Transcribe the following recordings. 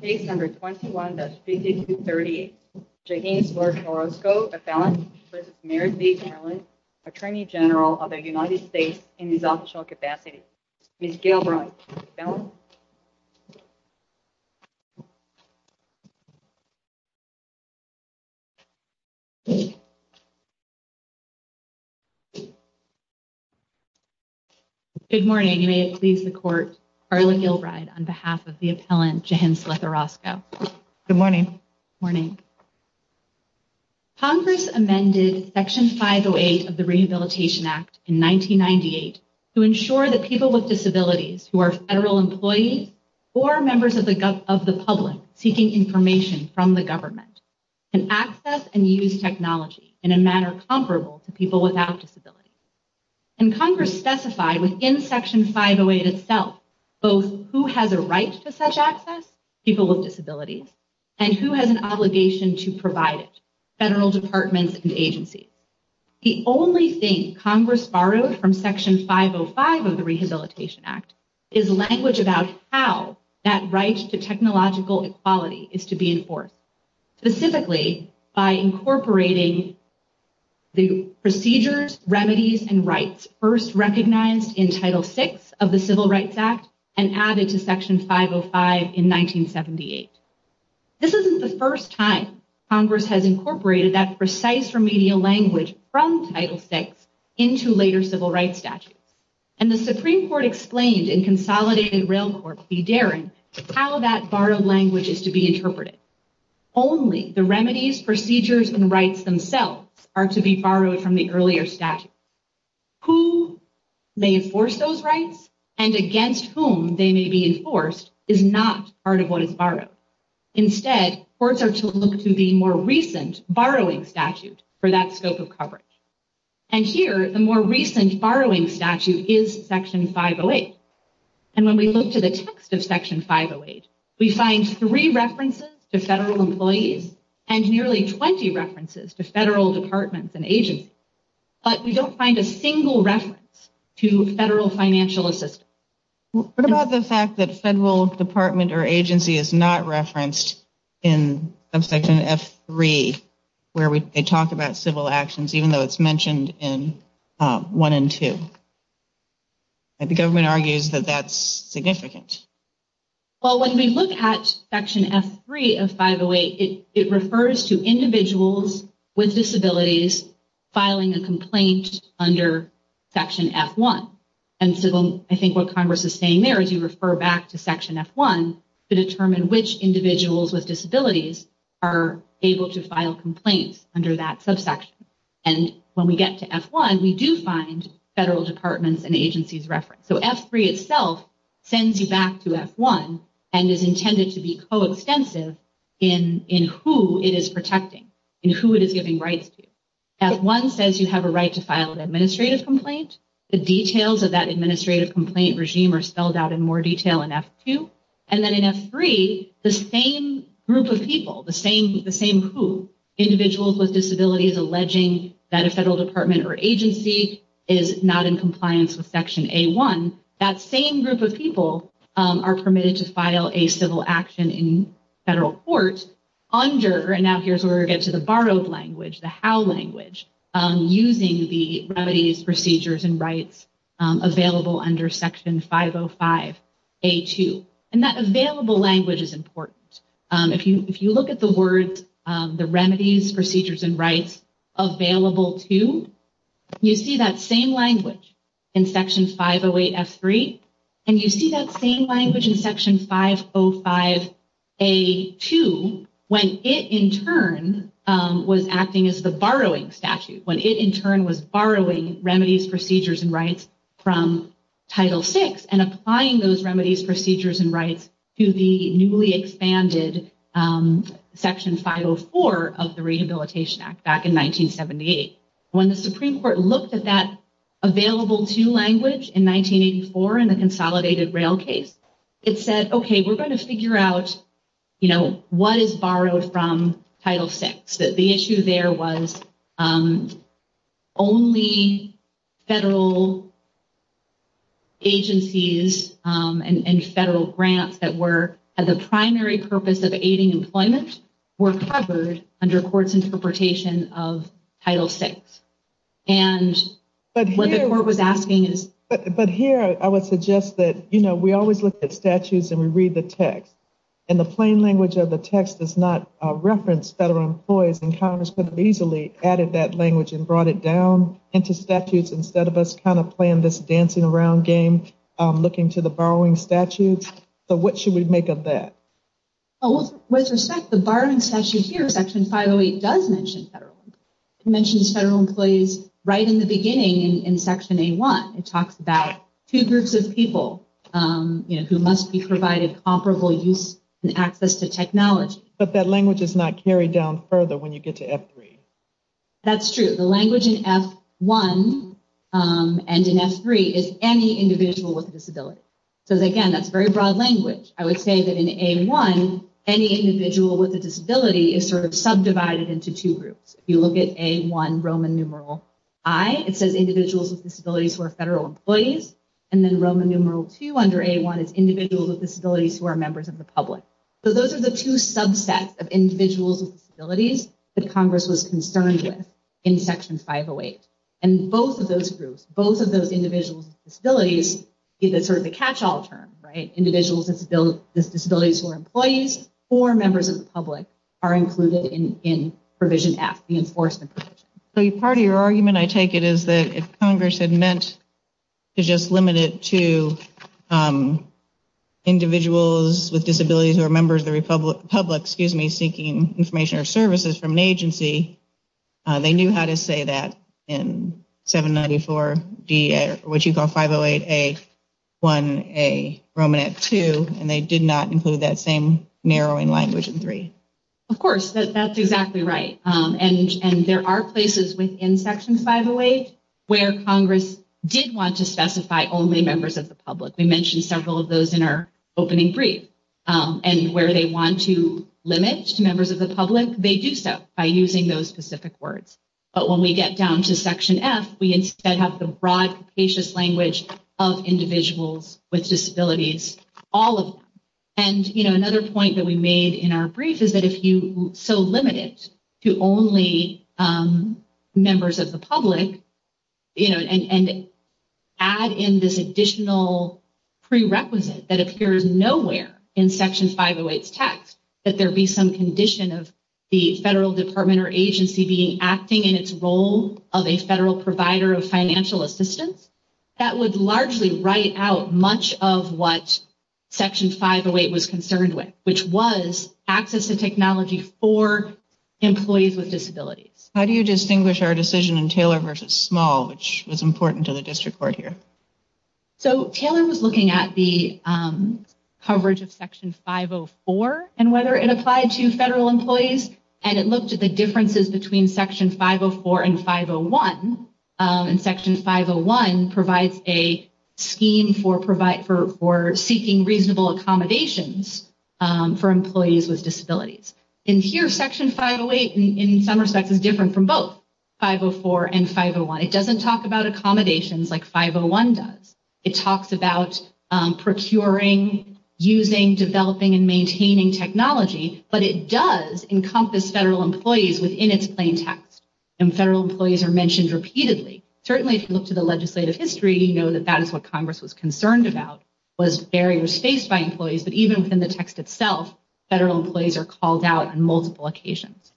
Case number 21-5238 Jarinnslerth Orozco, appellant v. Merrick B. Garland, Attorney General of the United States in his official capacity. Ms. Gilbride, appellant. Good morning, may it please the court, Carla Gilbride on behalf of the appellant Jarinnslerth Orozco. Good morning. Morning. Congress amended Section 508 of the Rehabilitation Act in 1998 to ensure that people with disabilities who are federal employees or members of the public seeking information from the government can access and use technology in a manner comparable to people without disabilities. And Congress specified within Section 508 itself both who has a right to such access, people with disabilities, and who has an obligation to provide it, federal departments and agencies. The only thing Congress borrowed from Section 505 of the Rehabilitation Act is language about how that right to technological equality is to be enforced, specifically by incorporating the procedures, remedies, and rights first recognized in Title VI of the Civil Rights Act and added to Section 505 in 1978. This isn't the first time Congress has incorporated that precise remedial language from Title VI into later civil rights statutes. And the Supreme Court explained in Consolidated Rail Court v. Darin how that borrowed language is to be interpreted. Only the remedies, procedures, and rights themselves are to be borrowed from the earlier statute. Who may enforce those rights and against whom they may be enforced is not part of what is borrowed. Instead, courts are to look to the more recent borrowing statute for that scope of coverage. And here, the more recent borrowing statute is Section 508. And when we look to the text of Section 508, we find three references to federal employees and nearly 20 references to federal departments and agencies. But we don't find a single reference to federal financial assistance. What about the fact that federal department or agency is not referenced in Section F3, where they talk about civil actions, even though it's mentioned in 1 and 2? The government argues that that's significant. Well, when we look at Section F3 of 508, it refers to individuals with disabilities filing a complaint under Section F1. And so I think what Congress is saying there is you refer back to Section F1 to determine which individuals with disabilities are able to file complaints under that subsection. And when we get to F1, we do find federal departments and agencies referenced. So F3 itself sends you back to F1 and is intended to be coextensive in who it is protecting, in who it is giving rights to. F1 says you have a right to file an administrative complaint. The details of that administrative complaint regime are spelled out in more detail in F2. And then in F3, the same group of people, the same who, individuals with disabilities alleging that a federal department or agency is not in compliance with Section A1, that same group of people are permitted to file a civil action in federal court under, and now here's where we get to the borrowed language, the how language, using the remedies, procedures, and rights available under Section 505A2. And that available language is important. If you look at the words, the remedies, procedures, and rights available to, you see that same language in Section 508F3. And you see that same language in Section 505A2 when it in turn was acting as the borrowing statute, when it in turn was borrowing remedies, procedures, and rights from Title VI and applying those remedies, procedures, and rights to the newly expanded Section 504 of the Rehabilitation Act back in 1978. When the Supreme Court looked at that available to language in 1984 in the Consolidated Rail case, it said, okay, we're going to figure out, you know, what is borrowed from Title VI. The issue there was only federal agencies and federal grants that were at the primary purpose of aiding employment were covered under court's interpretation of Title VI. But here, I would suggest that, you know, we always look at statutes and we read the text, and the plain language of the text does not reference federal employees, and Congress could have easily added that language and brought it down into statutes instead of us kind of playing this dancing around game, looking to the borrowing statutes. So what should we make of that? With respect, the borrowing statute here, Section 508, does mention federal employees. It mentions federal employees right in the beginning in Section A1. It talks about two groups of people, you know, who must be provided comparable use and access to technology. But that language is not carried down further when you get to F3. That's true. The language in F1 and in F3 is any individual with a disability. That's a broad language. I would say that in A1, any individual with a disability is sort of subdivided into two groups. If you look at A1, Roman numeral I, it says individuals with disabilities who are federal employees. And then Roman numeral II under A1 is individuals with disabilities who are members of the public. So those are the two subsets of individuals with disabilities that Congress was concerned with in Section 508. And both of those groups, both of those individuals with disabilities, is sort of the catch-all term. Individuals with disabilities who are employees or members of the public are included in Provision F, the enforcement provision. So part of your argument, I take it, is that if Congress had meant to just limit it to individuals with disabilities who are members of the public seeking information or services from an agency, they knew how to say that in 794D or what you call 508A1A, Roman numeral II, and they did not include that same narrowing language in III. Of course. That's exactly right. And there are places within Section 508 where Congress did want to specify only members of the public. We mentioned several of those in our opening brief. And where they want to limit to members of the public, they do so by using those specific words. But when we get down to Section F, we instead have the broad, capacious language of individuals with disabilities, all of them. And, you know, another point that we made in our brief is that if you so limit it to only members of the public, you know, and add in this additional prerequisite that appears nowhere in Section 508's text, that there be some condition of the federal department or agency being acting in its role of a federal provider of financial assistance, that would largely write out much of what Section 508 was concerned with, which was access to technology for employees with disabilities. How do you distinguish our decision in Taylor versus Small, which was important to the district court here? So Taylor was looking at the coverage of Section 504 and whether it applied to federal employees. And it looked at the differences between Section 504 and 501. And Section 501 provides a scheme for seeking reasonable accommodations for employees with disabilities. And here, Section 508, in some respects, is different from both 504 and 501. It doesn't talk about accommodations like 501 does. It talks about procuring, using, developing, and maintaining technology. But it does encompass federal employees within its plain text. And federal employees are mentioned repeatedly. Certainly, if you look to the legislative history, you know that that is what Congress was concerned about, was barriers faced by employees. But even within the text itself, federal employees are called out on multiple occasions.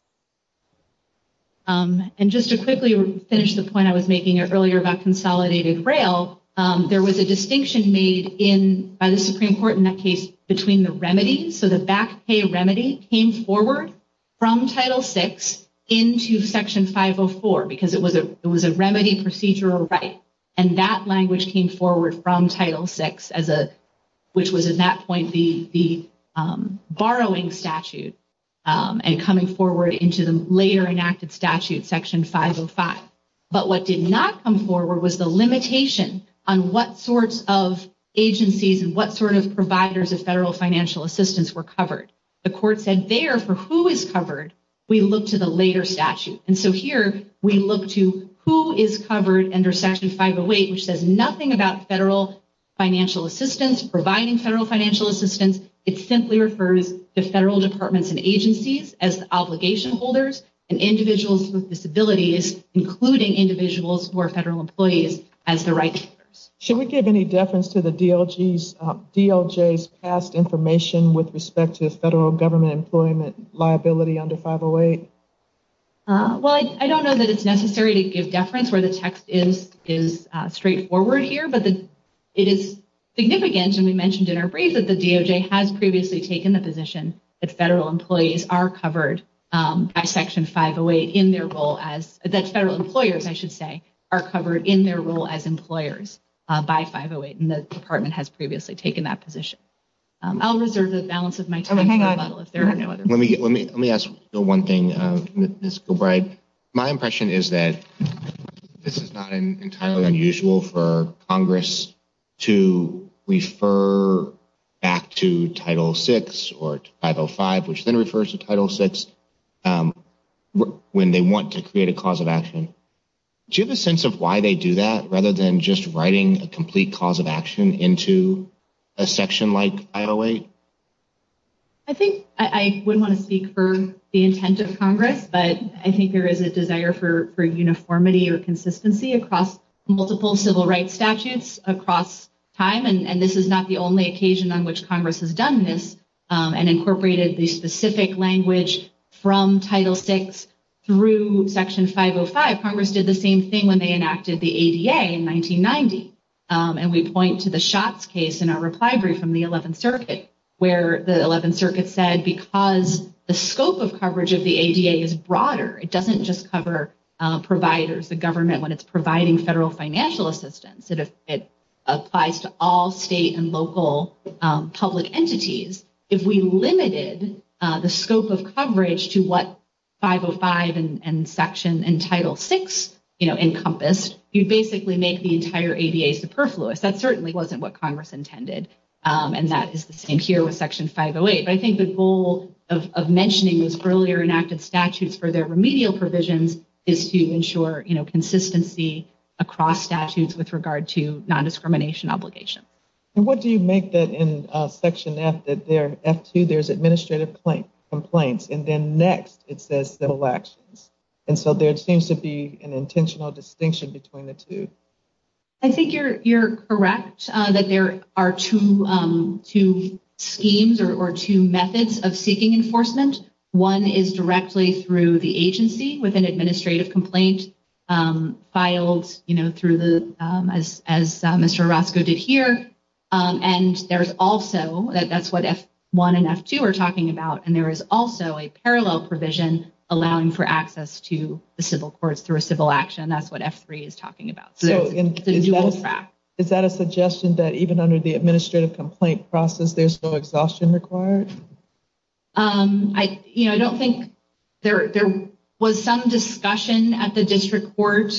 And just to quickly finish the point I was making earlier about consolidated braille, there was a distinction made by the Supreme Court in that case between the remedies. So the back pay remedy came forward from Title VI into Section 504, because it was a remedy procedural right. And that language came forward from Title VI, which was at that point the borrowing statute, and coming forward into the later enacted statute, Section 505. But what did not come forward was the limitation on what sorts of agencies and what sort of providers of federal financial assistance were covered. The court said there, for who is covered, we look to the later statute. And so here, we look to who is covered under Section 508, which says nothing about federal financial assistance, providing federal financial assistance. It simply refers to federal departments and agencies as the obligation holders, and individuals with disabilities, including individuals who are federal employees, as the right holders. Should we give any deference to the DLJ's past information with respect to federal government employment liability under 508? Well, I don't know that it's necessary to give deference where the text is straightforward here, but it is significant, and we mentioned in our brief, that the DLJ has previously taken the position that federal employees are covered by Section 508 in their role as, that federal employers, I should say, are covered in their role as employers by 508. And the department has previously taken that position. I'll reserve the balance of my time. Let me ask one thing, Ms. Gilbride. My impression is that this is not entirely unusual for Congress to refer back to Title VI or 505, which then refers to Title VI, when they want to create a cause of action. Do you have a sense of why they do that, rather than just writing a complete cause of action into a section like 508? I think I wouldn't want to speak for the intent of Congress, but I think there is a desire for uniformity or consistency across multiple civil rights statutes across time, and this is not the only occasion on which Congress has done this and incorporated the specific language from Title VI through Section 505. Congress did the same thing when they enacted the ADA in 1990, and we point to the Schatz case in our reply brief from the 11th Circuit. Where the 11th Circuit said, because the scope of coverage of the ADA is broader, it doesn't just cover providers, the government when it's providing federal financial assistance. It applies to all state and local public entities. If we limited the scope of coverage to what 505 and Title VI encompass, you'd basically make the entire ADA superfluous. That certainly wasn't what Congress intended, and that is the same here with Section 508. But I think the goal of mentioning those earlier enacted statutes for their remedial provisions is to ensure consistency across statutes with regard to non-discrimination obligation. And what do you make that in Section F2, there's administrative complaints, and then next it says civil actions. And so there seems to be an intentional distinction between the two. I think you're correct that there are two schemes or two methods of seeking enforcement. One is directly through the agency with an administrative complaint filed through the, as Mr. Orozco did here. And there's also, that's what F1 and F2 are talking about. And there is also a parallel provision allowing for access to the civil courts through a civil action. And that's what F3 is talking about. So it's a dual track. Is that a suggestion that even under the administrative complaint process, there's no exhaustion required? I don't think there was some discussion at the district court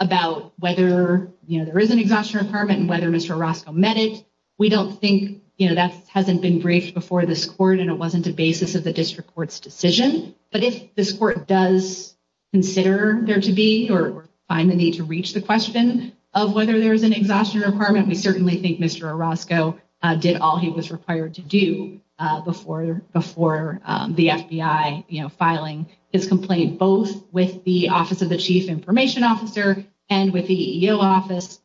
about whether there is an exhaustion requirement and whether Mr. Orozco met it. We don't think that hasn't been briefed before this court and it wasn't a basis of the district court's decision. But if this court does consider there to be or find the need to reach the question of whether there's an exhaustion requirement, we certainly think Mr. Orozco did all he was required to do before the FBI filing his complaint, both with the office of the chief information officer and with the EEO office,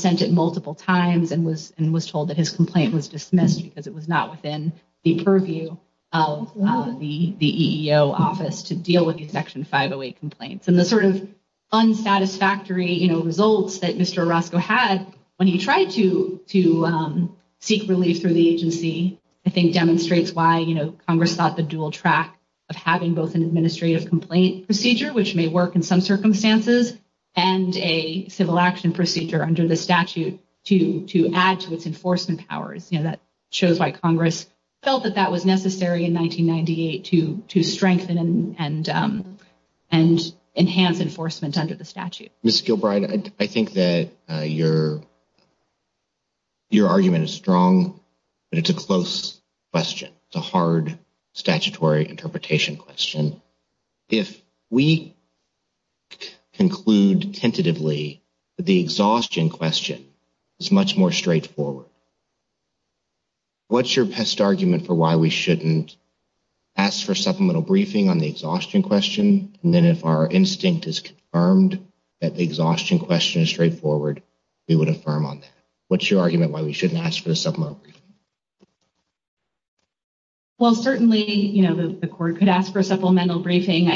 sent it multiple times and was told that his complaint was dismissed because it was not within the purview of the EEO office to deal with the Section 508 complaints. And the sort of unsatisfactory results that Mr. Orozco had when he tried to seek relief through the agency, I think demonstrates why Congress thought the dual track of having both an administrative complaint procedure, which may work in some circumstances, and a civil action procedure under the statute to add to its enforcement powers. It shows why Congress felt that that was necessary in 1998 to strengthen and enhance enforcement under the statute. Ms. Gilbride, I think that your argument is strong, but it's a close question. It's a hard statutory interpretation question. If we conclude tentatively that the exhaustion question is much more straightforward, what's your best argument for why we shouldn't ask for a supplemental briefing on the exhaustion question? And then if our instinct is confirmed that the exhaustion question is straightforward, we would affirm on that. What's your argument why we shouldn't ask for the supplemental briefing? Well, certainly, you know, the court could ask for a supplemental briefing.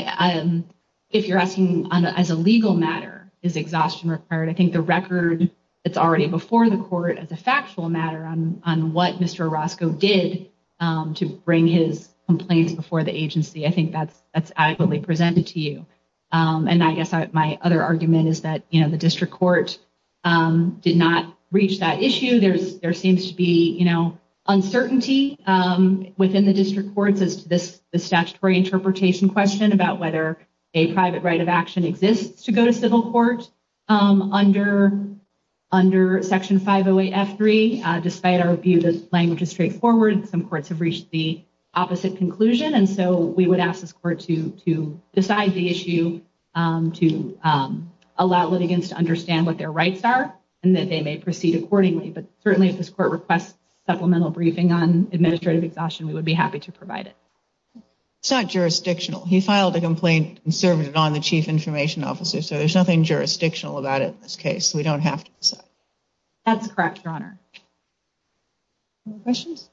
If you're asking as a legal matter, is exhaustion required? I think the record, it's already before the court that it's a legal matter on what Mr. Orozco did to bring his complaints before the agency. I think that's adequately presented to you. And I guess my other argument is that, you know, the district court did not reach that issue. There seems to be, you know, uncertainty within the district courts as to this statutory interpretation question about whether a private right of action exists to go to civil court under Section 508F3. Despite our view that language is straightforward, some courts have reached the opposite conclusion. And so we would ask this court to decide the issue, to allow litigants to understand what their rights are and that they may proceed accordingly. But certainly if this court requests supplemental briefing on administrative exhaustion, we would be happy to provide it. It's not jurisdictional. He filed a complaint and served it so there's nothing jurisdictional about it in this case. We don't have to decide. That's correct, Your Honor. Questions?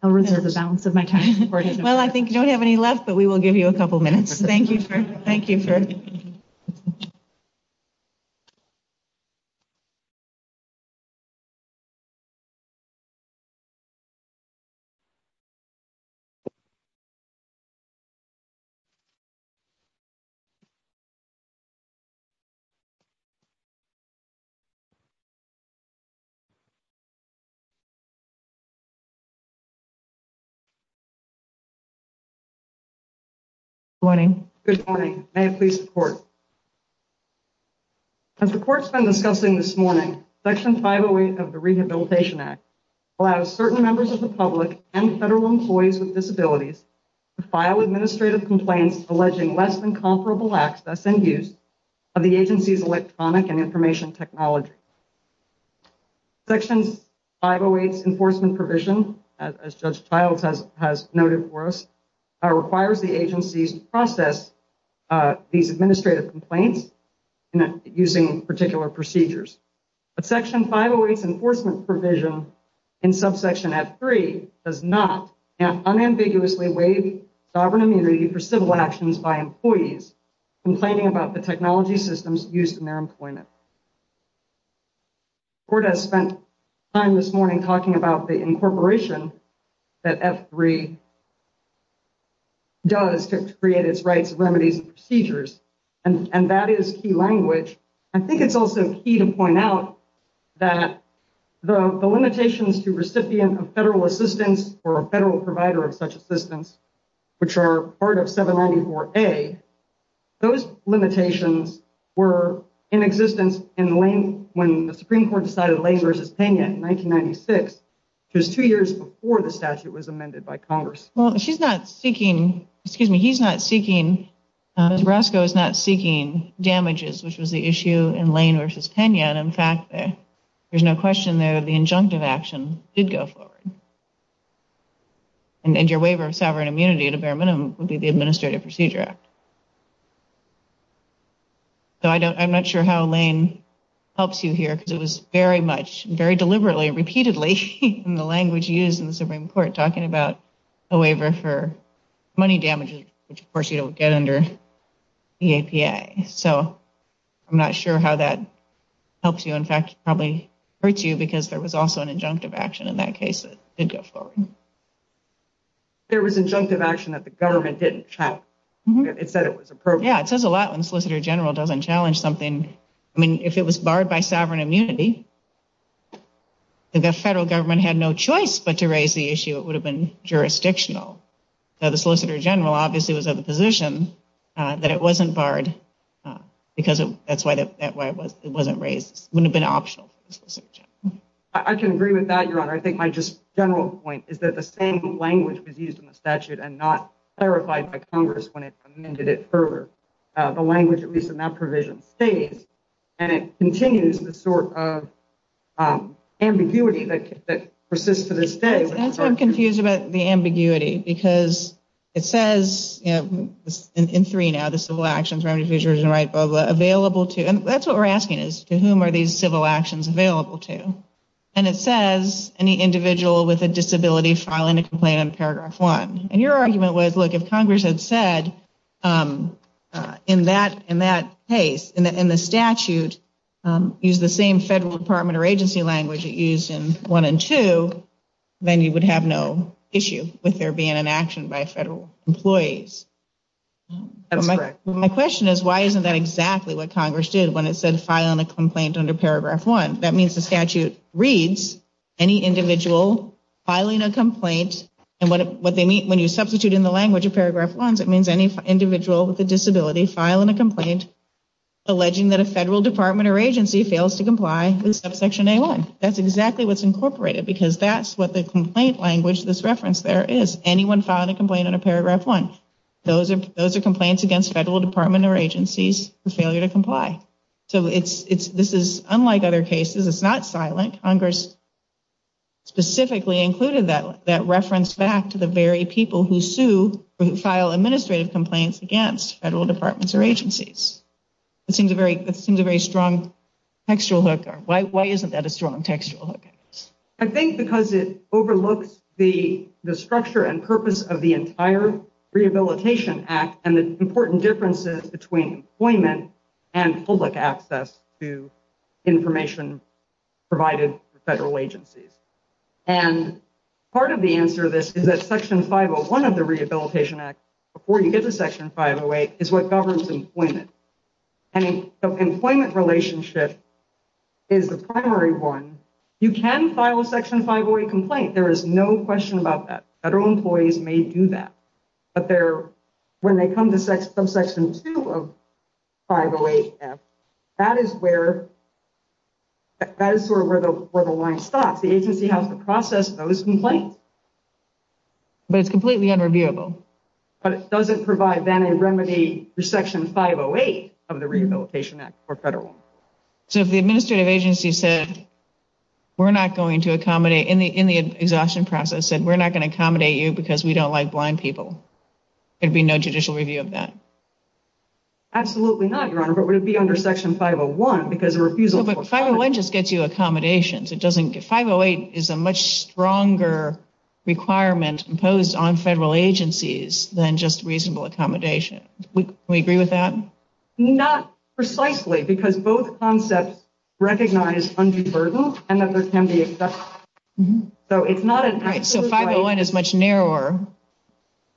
I'll reserve the balance of my time. Well, I think you don't have any left, but we will give you a couple minutes. Thank you for... Good morning. Good morning. May it please the court. As the court's been discussing this morning, Section 508 of the Rehabilitation Act allows certain members of the public and federal employees with disabilities or a person with a disability or a person with a disability to file complaints of the agency's electronic and information technology. Section 508's enforcement provision, as Judge Childs has noted for us, requires the agencies to process these administrative complaints using particular procedures. But Section 508's enforcement provision in subsection F3 does not unambiguously waive sovereign immunity for civil actions by employees complaining about the technology systems used in their employment. The court has spent time this morning talking about the incorporation that F3 does to create its rights, remedies, and procedures, and that is key language. I think it's also key to point out that the limitations to recipient of federal assistance or a federal provider of such assistance, which are part of 794A, those limitations were in existence when the Supreme Court decided Lane v. Pena in 1996, which was two years before the statute was amended by Congress. Well, she's not seeking, excuse me, he's not seeking, Nebraska is not seeking damages, which was the issue in Lane v. Pena, and in fact, there's no question there, the injunctive action did go forward. And your waiver of sovereign immunity at a bare minimum would be subject to the Administrative Procedure Act. So I'm not sure how Lane helps you here, because it was very much, very deliberately and repeatedly in the language used in the Supreme Court talking about a waiver for money damages, which of course you don't get under the APA. So I'm not sure how that helps you. In fact, it probably hurts you because there was also an injunctive action in that case that did go forward. There was injunctive action that the government didn't challenge. It said it was appropriate. Yeah, it says a lot when the Solicitor General doesn't challenge something. I mean, if it was barred by sovereign immunity, the federal government had no choice but to raise the issue. It would have been jurisdictional. Now, the Solicitor General obviously was of the position that it wasn't barred because that's why it wasn't raised. It wouldn't have been optional. I can agree with that, Your Honor. I think my just general point is it's not clarified by Congress when it amended it further. The language, at least in that provision, stays, and it continues the sort of ambiguity that persists to this day. That's why I'm confused about the ambiguity because it says in three now, the civil actions, remedy, fusion, right, blah, blah, available to, and that's what we're asking is, to whom are these civil actions available to? And it says any individual with a disability filing a complaint on paragraph one. And your argument was, look, if Congress had said in that case, in the statute, use the same federal department or agency language it used in one and two, then you would have no issue with there being an action by federal employees. That's correct. My question is why isn't that exactly what Congress did when it said filing a complaint under paragraph one? That means the statute reads any individual filing a complaint, alleging that a federal department or agency fails to comply with subsection A-1. That's exactly what's incorporated because that's what the complaint language, this reference there, is. Anyone filing a complaint under paragraph one, those are complaints against federal department or agencies for failure to comply. So this is unlike other cases. It's not silent. Congress specifically included that reference in the statute. It's not silent. It's a reference back to the very people who sue or who file administrative complaints against federal departments or agencies. That seems a very strong textual hook. Why isn't that a strong textual hook? I think because it overlooks the structure and purpose of the entire Rehabilitation Act and the important differences between employment and public access to information provided by federal agencies. And part of the answer to this is that section 501 of the Rehabilitation Act, before you get to section 508, is what governs employment. And the employment relationship is the primary one. You can file a section 508 complaint. There is no question about that. Federal employees may do that. But when they come to subsection 2 of 508-F, that is where the line stops. The agency has to process those complaints. But it's completely unreviewable. But it doesn't provide remedy for section 508 of the Rehabilitation Act for federal. So if the administrative agency said, we're not going to accommodate, in the exhaustion process, we're not going to accommodate you because we don't like blind people, there would be no judicial review of that. Absolutely not, Your Honor. But it would be under section 501 because the refusal... No, but 501 just gets you accommodations. It's a stronger requirement imposed on federal agencies than just reasonable accommodation. Can we agree with that? Not precisely because both concepts recognize undue burden and that there can be... So 501 is a much narrower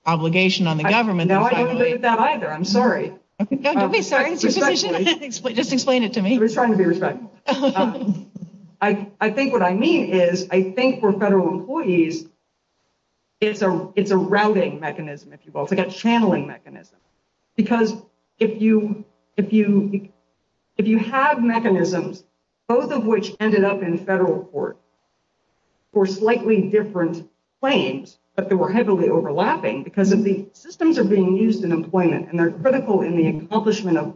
obligation on the government... No, I don't believe that either. I'm sorry. No, don't be sorry. Just explain it to me. I think what I mean is for federal employees, it's a routing mechanism, if you will, it's like a channeling mechanism because if you have mechanisms, both of which ended up in federal court for slightly different claims, but they were heavily overlapping are being used in employment and they're critical in the accomplishment of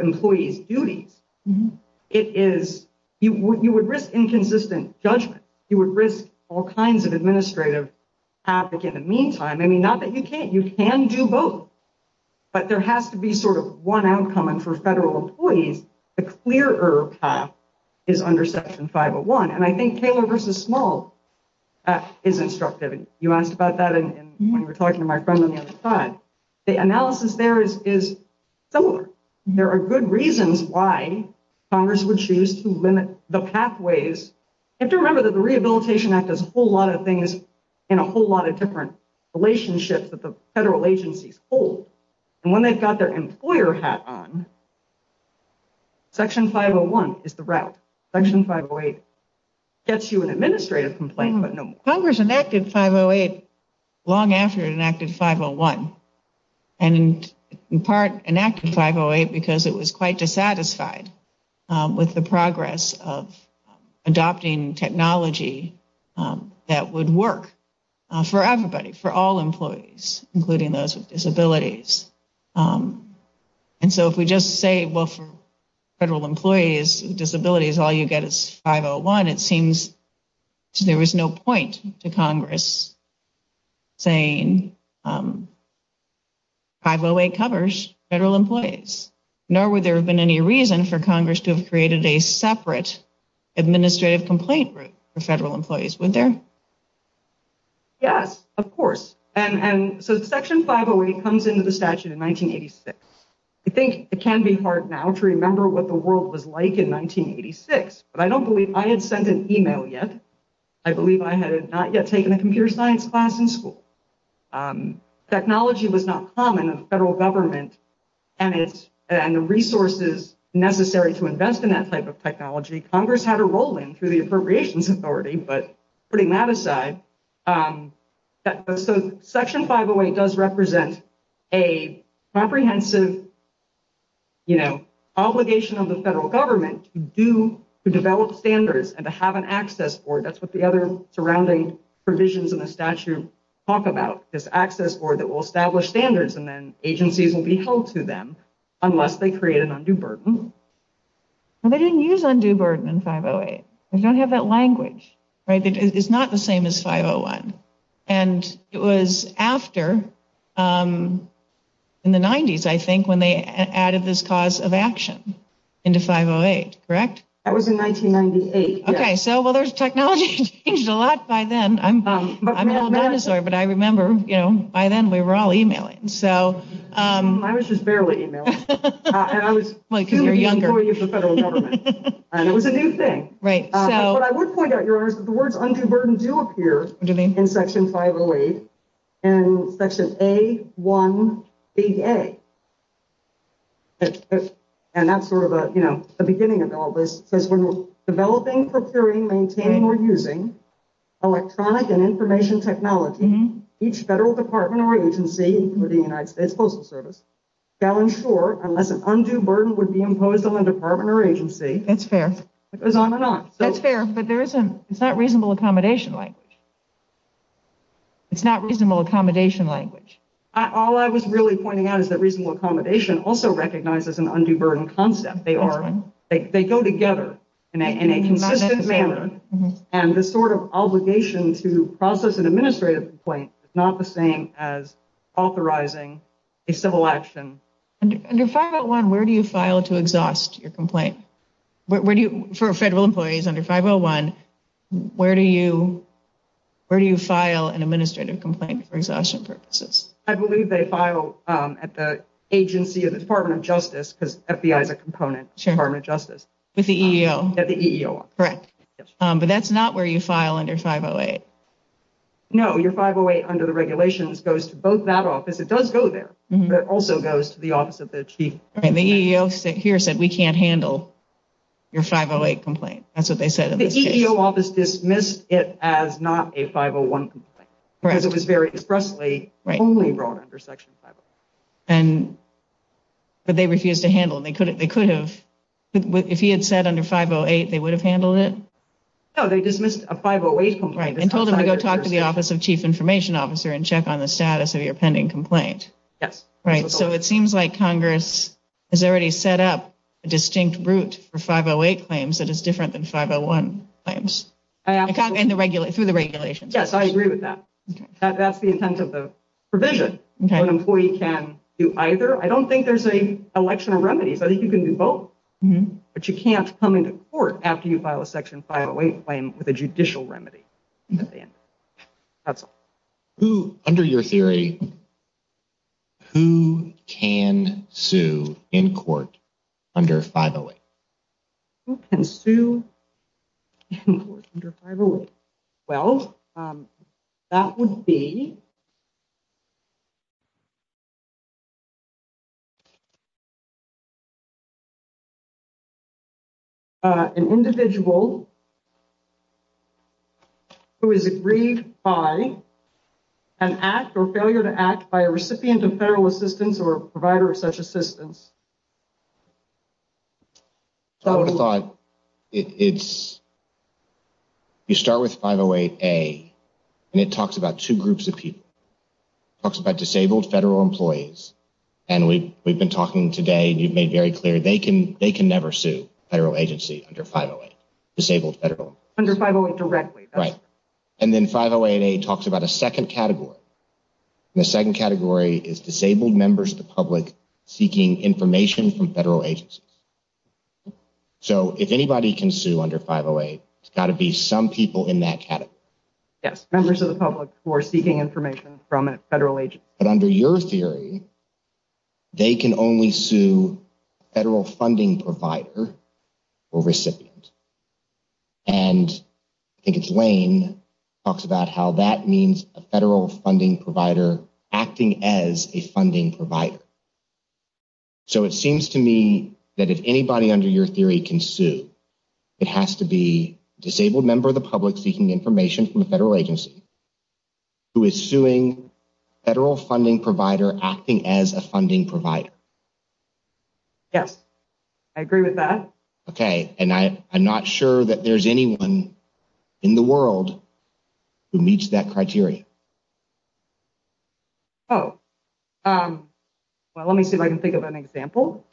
employees' duties, it is... You would risk inconsistent judgment. You would risk all kinds of administrative havoc in the meantime. I mean, not that you can't. You can do both, but there has to be sort of one outcome and for federal employees, the clearer path is under section 501 and I think Taylor versus Small is instructive. You asked about that when you were talking to my friend on the other side. The analysis there is similar. There are good reasons why Congress would choose to limit the pathways. You have to remember that the Rehabilitation Act does a whole lot of things in a whole lot of different relationships that the federal agencies hold and when they've got their employer hat on, section 501 is the route. Section 508 gets you an administrative complaint, but no more. Congress enacted 508 long after it enacted 501 and in part enacted 508 because it was quite dissatisfied with the progress of adopting technology that would work for everybody, for all employees, including those with disabilities. And so if we just say, well, for federal employees with disabilities, all you get is 501, it seems there was no point to Congress saying 508 covers federal employees, nor would there have been any reason for Congress to have created a separate administrative complaint for federal employees, would there? Yes, of course. And so section 508 comes into the statute in 1986. I think it can be hard now to remember what the world was like in 1986, but I don't believe I had sent an email yet. I believe I had not yet taken a computer science class in school. Technology was not common in the federal government and the resources necessary to invest in that type of technology. Congress had a role in through the Appropriations Authority, but putting that aside. So section 508 does represent a comprehensive obligation of the federal government to develop standards and to have an access for it. That's what the other surrounding provisions in the statute talk about, this access for it that will establish standards and then agencies will be held to them unless they create an undue burden. They didn't use undue burden in 508. They don't have that language. Right. It's not the same as 501. And it was after in the 90s, I think, when they added this cause of action into 508, correct? That was in 1998. OK, so well, there's technology changed a lot by then. I'm an old dinosaur, but I remember, you know, by then, we were all emailing. I was just barely emailing. Well, because you're younger. And it was a new thing. Right. What I would point out, Your Honor, is that the words undue burden do appear in section 508 in section A1 BA. And that's sort of the beginning of all this. It says when we're developing, procuring, maintaining, or using electronic and information technology, each federal department or agency, including the United States Postal Service, shall ensure unless an undue burden would be imposed on the department or agency. That's fair. It goes on and on. That's fair, but it's not reasonable accommodation language. It's not reasonable accommodation language. All I was really pointing out is that reasonable accommodation also recognizes an undue burden concept. They go together in a consistent manner and this sort of obligation to process an administrative complaint is not the same as authorizing a civil action. Under 501, where do you file to exhaust your complaint? For federal employees under 501, where do you where do you file an administrative complaint for exhaustion purposes? I believe they file at the agency of the Department of Justice because FBI is a component of the Department of Justice. With the EEO? With the EEO. Correct. But that's not where you file under 508. No, your 508 under the regulations goes to both that office. It does go there, but it also goes to the office of the chief. The EEO here said we can't handle your 508 complaint. That's what they said in this case. The EEO office dismissed it as not a 501 complaint because it was very expressly only brought under section 501. But they refused to handle and they could have if he had said under 508 they would have handled it. No, they dismissed a 508 complaint. Right. They told him to go talk to the office of chief information officer and check on the status of your pending complaint. Yes. Right. So it seems like Congress has already set up a distinct route for 508 claims that is different than 501 claims. Through the regulations. Yes, I agree with that. That's the intent of the provision. An employee can do either. I don't think there's an election of remedies. I think you can do both. But you can't come into court after you file a section 508 claim with a judicial remedy. That's all. Under your theory who can sue in court under 508? Who can sue in court under 508? Well, that would be an individual who is agreed by an act or failure to act by a recipient of federal assistance or a provider of such assistance. I would have thought you start with 508A and it talks about two groups of people. It talks about disabled federal employees. And we've been talking today and you've made very clear they can never sue a federal agency under 508. Disabled federal employees. Under 508 directly. Right. And then 508A talks about a second category. The second category is disabled members of the public seeking information from federal agencies. So if anybody can sue under 508 it's got to be some people in that category. Yes. Members of the public who are seeking information from a federal agency. But under your theory they can only sue a federal funding provider or recipient. And I think it's Lane talks about how that means a federal funding provider acting as a funding provider. So it seems to me that if anybody under your theory can sue it has to be a disabled member of the public seeking information from a federal agency who is suing a federal funding provider acting as a funding provider. Yes. I agree with that. Okay. And I'm not sure that there's anyone in the world who meets that criteria. Oh. Well let me see if I can think of an example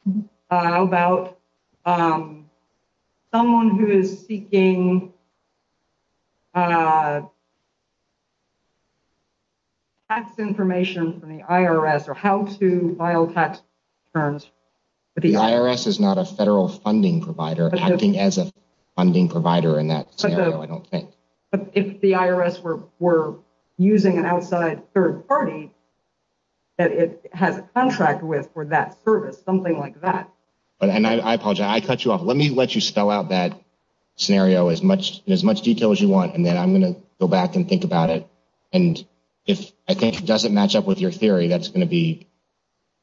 about someone who is seeking tax information from the IRS or how to file tax returns with the IRS. The IRS is not a federal funding provider acting as a funding provider in that scenario I don't think. But if the IRS were using an outside third party that it has a contract with for that service something like that. And I apologize I cut you off. Let me let you spell out that scenario as much in as much detail as you want and then I'm going to go back and think about it. And if I think it doesn't match up with your theory that's going to be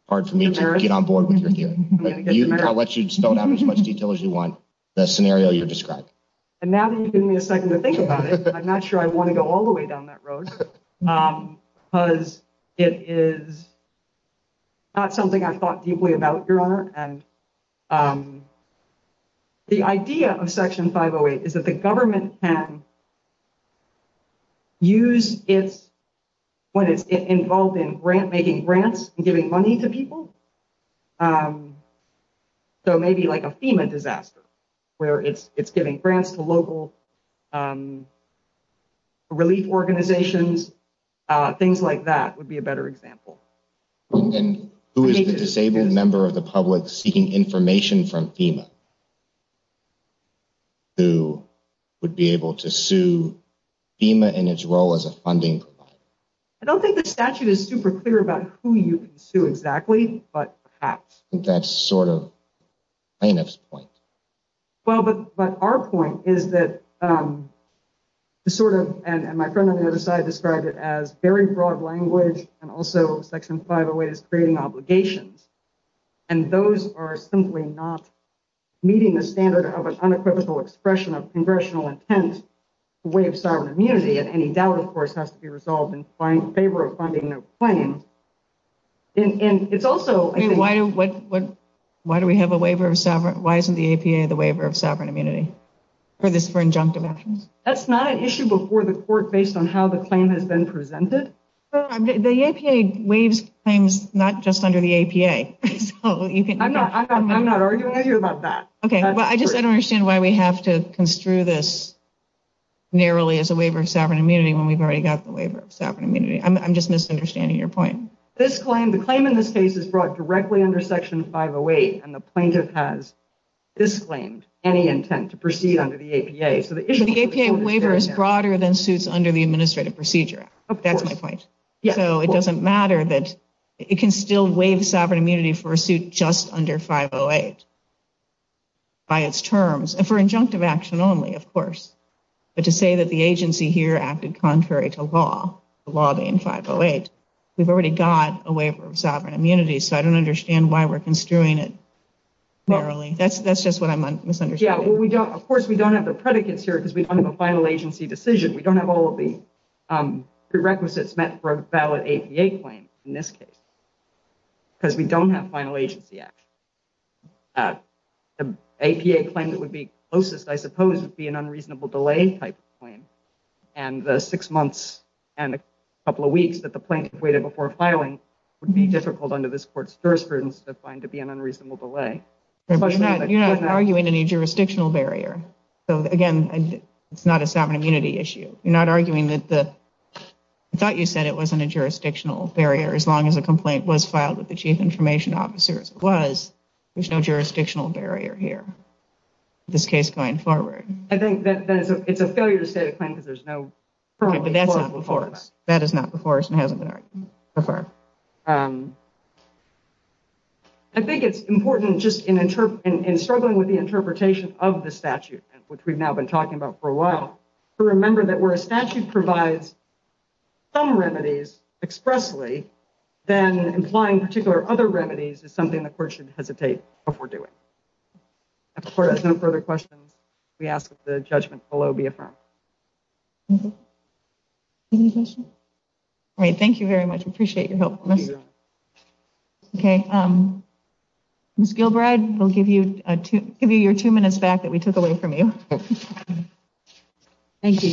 hard for me to get on board with your theory. I'll let you spell it out in as much detail as you want the scenario you described. And now that you've given me a second to think about it I'm not sure I want to go all the way down that road because it is not something I've thought deeply about Your Honor. And the idea of Section 508 is that the government can use when it's involved in grant making grants and giving money to people so maybe like a FEMA disaster where it's giving grants to local relief organizations things like that would be a better example. And who is the disabled member of the public seeking information from FEMA who would be able to sue FEMA in its role as a funding provider? I don't think the statute is super clear about who you can sue exactly but perhaps. That's sort of plaintiff's point. Well but our point is that the sort of and my friend on the other side described it as very broad language and also Section 508 is creating obligations simply not meeting the standard of an unequivocal expression of congressional intent in the way of sovereign immunity and any doubt of course has to be resolved in favor of finding a claim. And it's also I mean why do what why do we have a waiver of sovereign why isn't the APA the waiver of sovereign immunity for this for injunctive actions? That's not an issue before the court based on how the claim has been presented. The APA waives claims not just under the APA. I'm not arguing with you about that. Okay well I just I don't understand why we have to construe this narrowly as a waiver of sovereign immunity when we've already got the waiver of sovereign immunity. I'm just misunderstanding your point. This claim the claim in this case is brought directly under Section 508 and the plaintiff has disclaimed any intent to proceed under the APA. The APA waiver is broader than suits under the Administrative Procedure Act. That's my point. So it doesn't matter that it can still waive sovereign immunity for a suit just under 508 by its terms for injunctive action only of course. But to say that the agency here acted contrary to law the law being 508 we've already got a waiver of sovereign immunity so I don't understand why we're construing it narrowly. That's that's just what I'm misunderstanding. Yeah well we don't of course we don't have the predicates here because we don't have a final agency decision. We don't have all of the prerequisites meant for a valid APA claim in this case because we don't have final agency action. The APA claim that would be closest I suppose would be an unreasonable delay given the six months and a couple of weeks that the plaintiff waited before filing would be difficult under this court's jurisprudence to find to be an unreasonable delay. You're not arguing any jurisdictional barrier. So again it's not a sovereign immunity issue. You're not arguing that the I thought you said it wasn't a jurisdictional barrier as long as a complaint was filed with the chief information officer as it was. There's no jurisdictional barrier here in this case going forward. I think that it's a failure to state a claim because there's no That is not before us and hasn't been argued before. I think it's important just in struggling with the interpretation of the statute which we've now been talking about for a while to remember that where a statute provides some remedies expressly then implying particular other remedies is something the court should hesitate before doing. If the court has no further questions, we ask that the judgment below be affirmed. Any questions? All right. Thank you very much. Appreciate your help. Okay. Ms. Gilbride will give you your two minutes back that we took away from you. Thank you.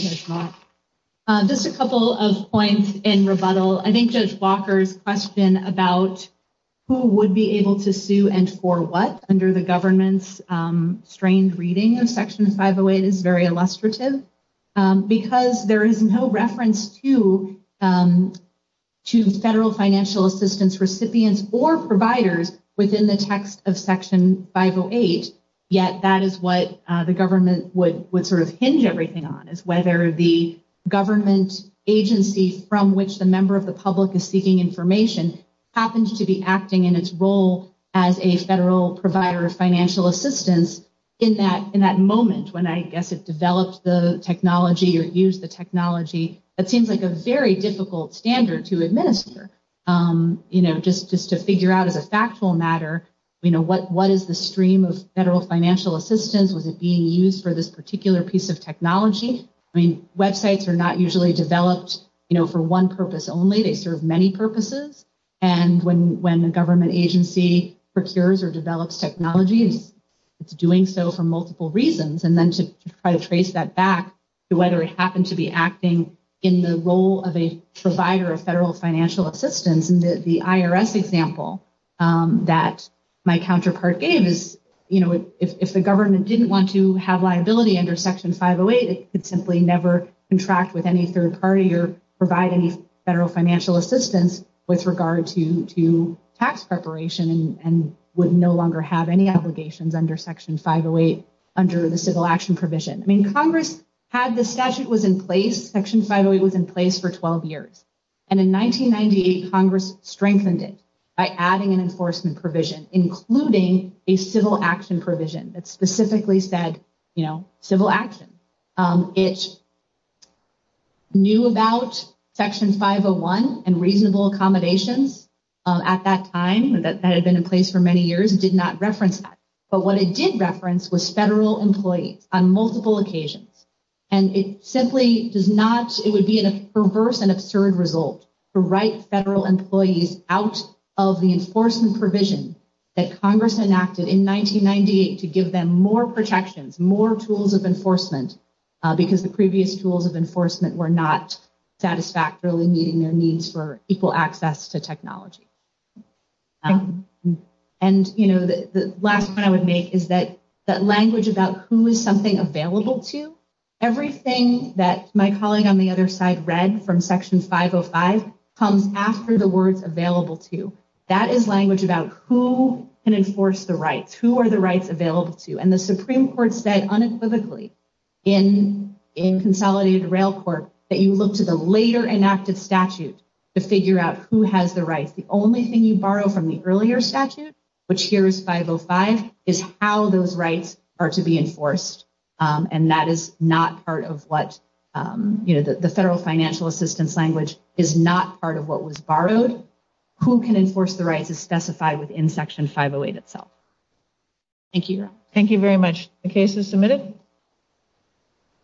Just a couple of points in rebuttal. I think Judge Walker's question about who would be able to sue and for what under the government's strained financial policy. I think the reading of section 508 is very illustrative because there is no reference to federal financial assistance recipients or providers within the text of section 508, yet that is what the government would sort of hinge everything on is whether the government agency from which the member of government agency served in its role as a federal provider of financial assistance in that moment when I guess it developed the technology or used the technology that seems like a very difficult standard to administer. Just to figure out as a factual matter what is the stream of federal financial that the government agency procures or develops technology, it is doing so for multiple reasons. To trace that back to whether it happened to be acting in the role of a provider of federal financial assistance, the IRS example that my counterpart gave, if the government didn't want to have liability under section 508, it could never provide any federal financial assistance with regard to tax preparation and would no longer have any obligations under section 508. Congress had the statute was in place, section 508 was in place for 12 years. In 1998, Congress strengthened it by adding an enforcement provision, including a civil action provision that specifically said civil action. It knew about section 501 and reasonable accommodations at that time that had been in place for many years and did not reference that, but what it did reference was federal employees on multiple occasions. It would be an absurd result to write federal employees out of the enforcement provision that Congress enacted in 1998 to give them more protections, more tools of enforcement, because the previous tools of enforcement were not satisfactorily meeting their needs for equal access to technology. And, you know, the last point I would make is that language about who is something the Supreme Court said unequivocally in consolidated rail court that you look to the later enacted statute to figure out who has the The only thing you borrow from the earlier statute, which here is 505, is how those rights are to be enforced. And the Supreme Court said that is not part of what the federal financial assistance language is not part of what was borrowed. Who can enforce the rights is specified in section 508 itself. Thank you. Thank you very much. The case is submitted.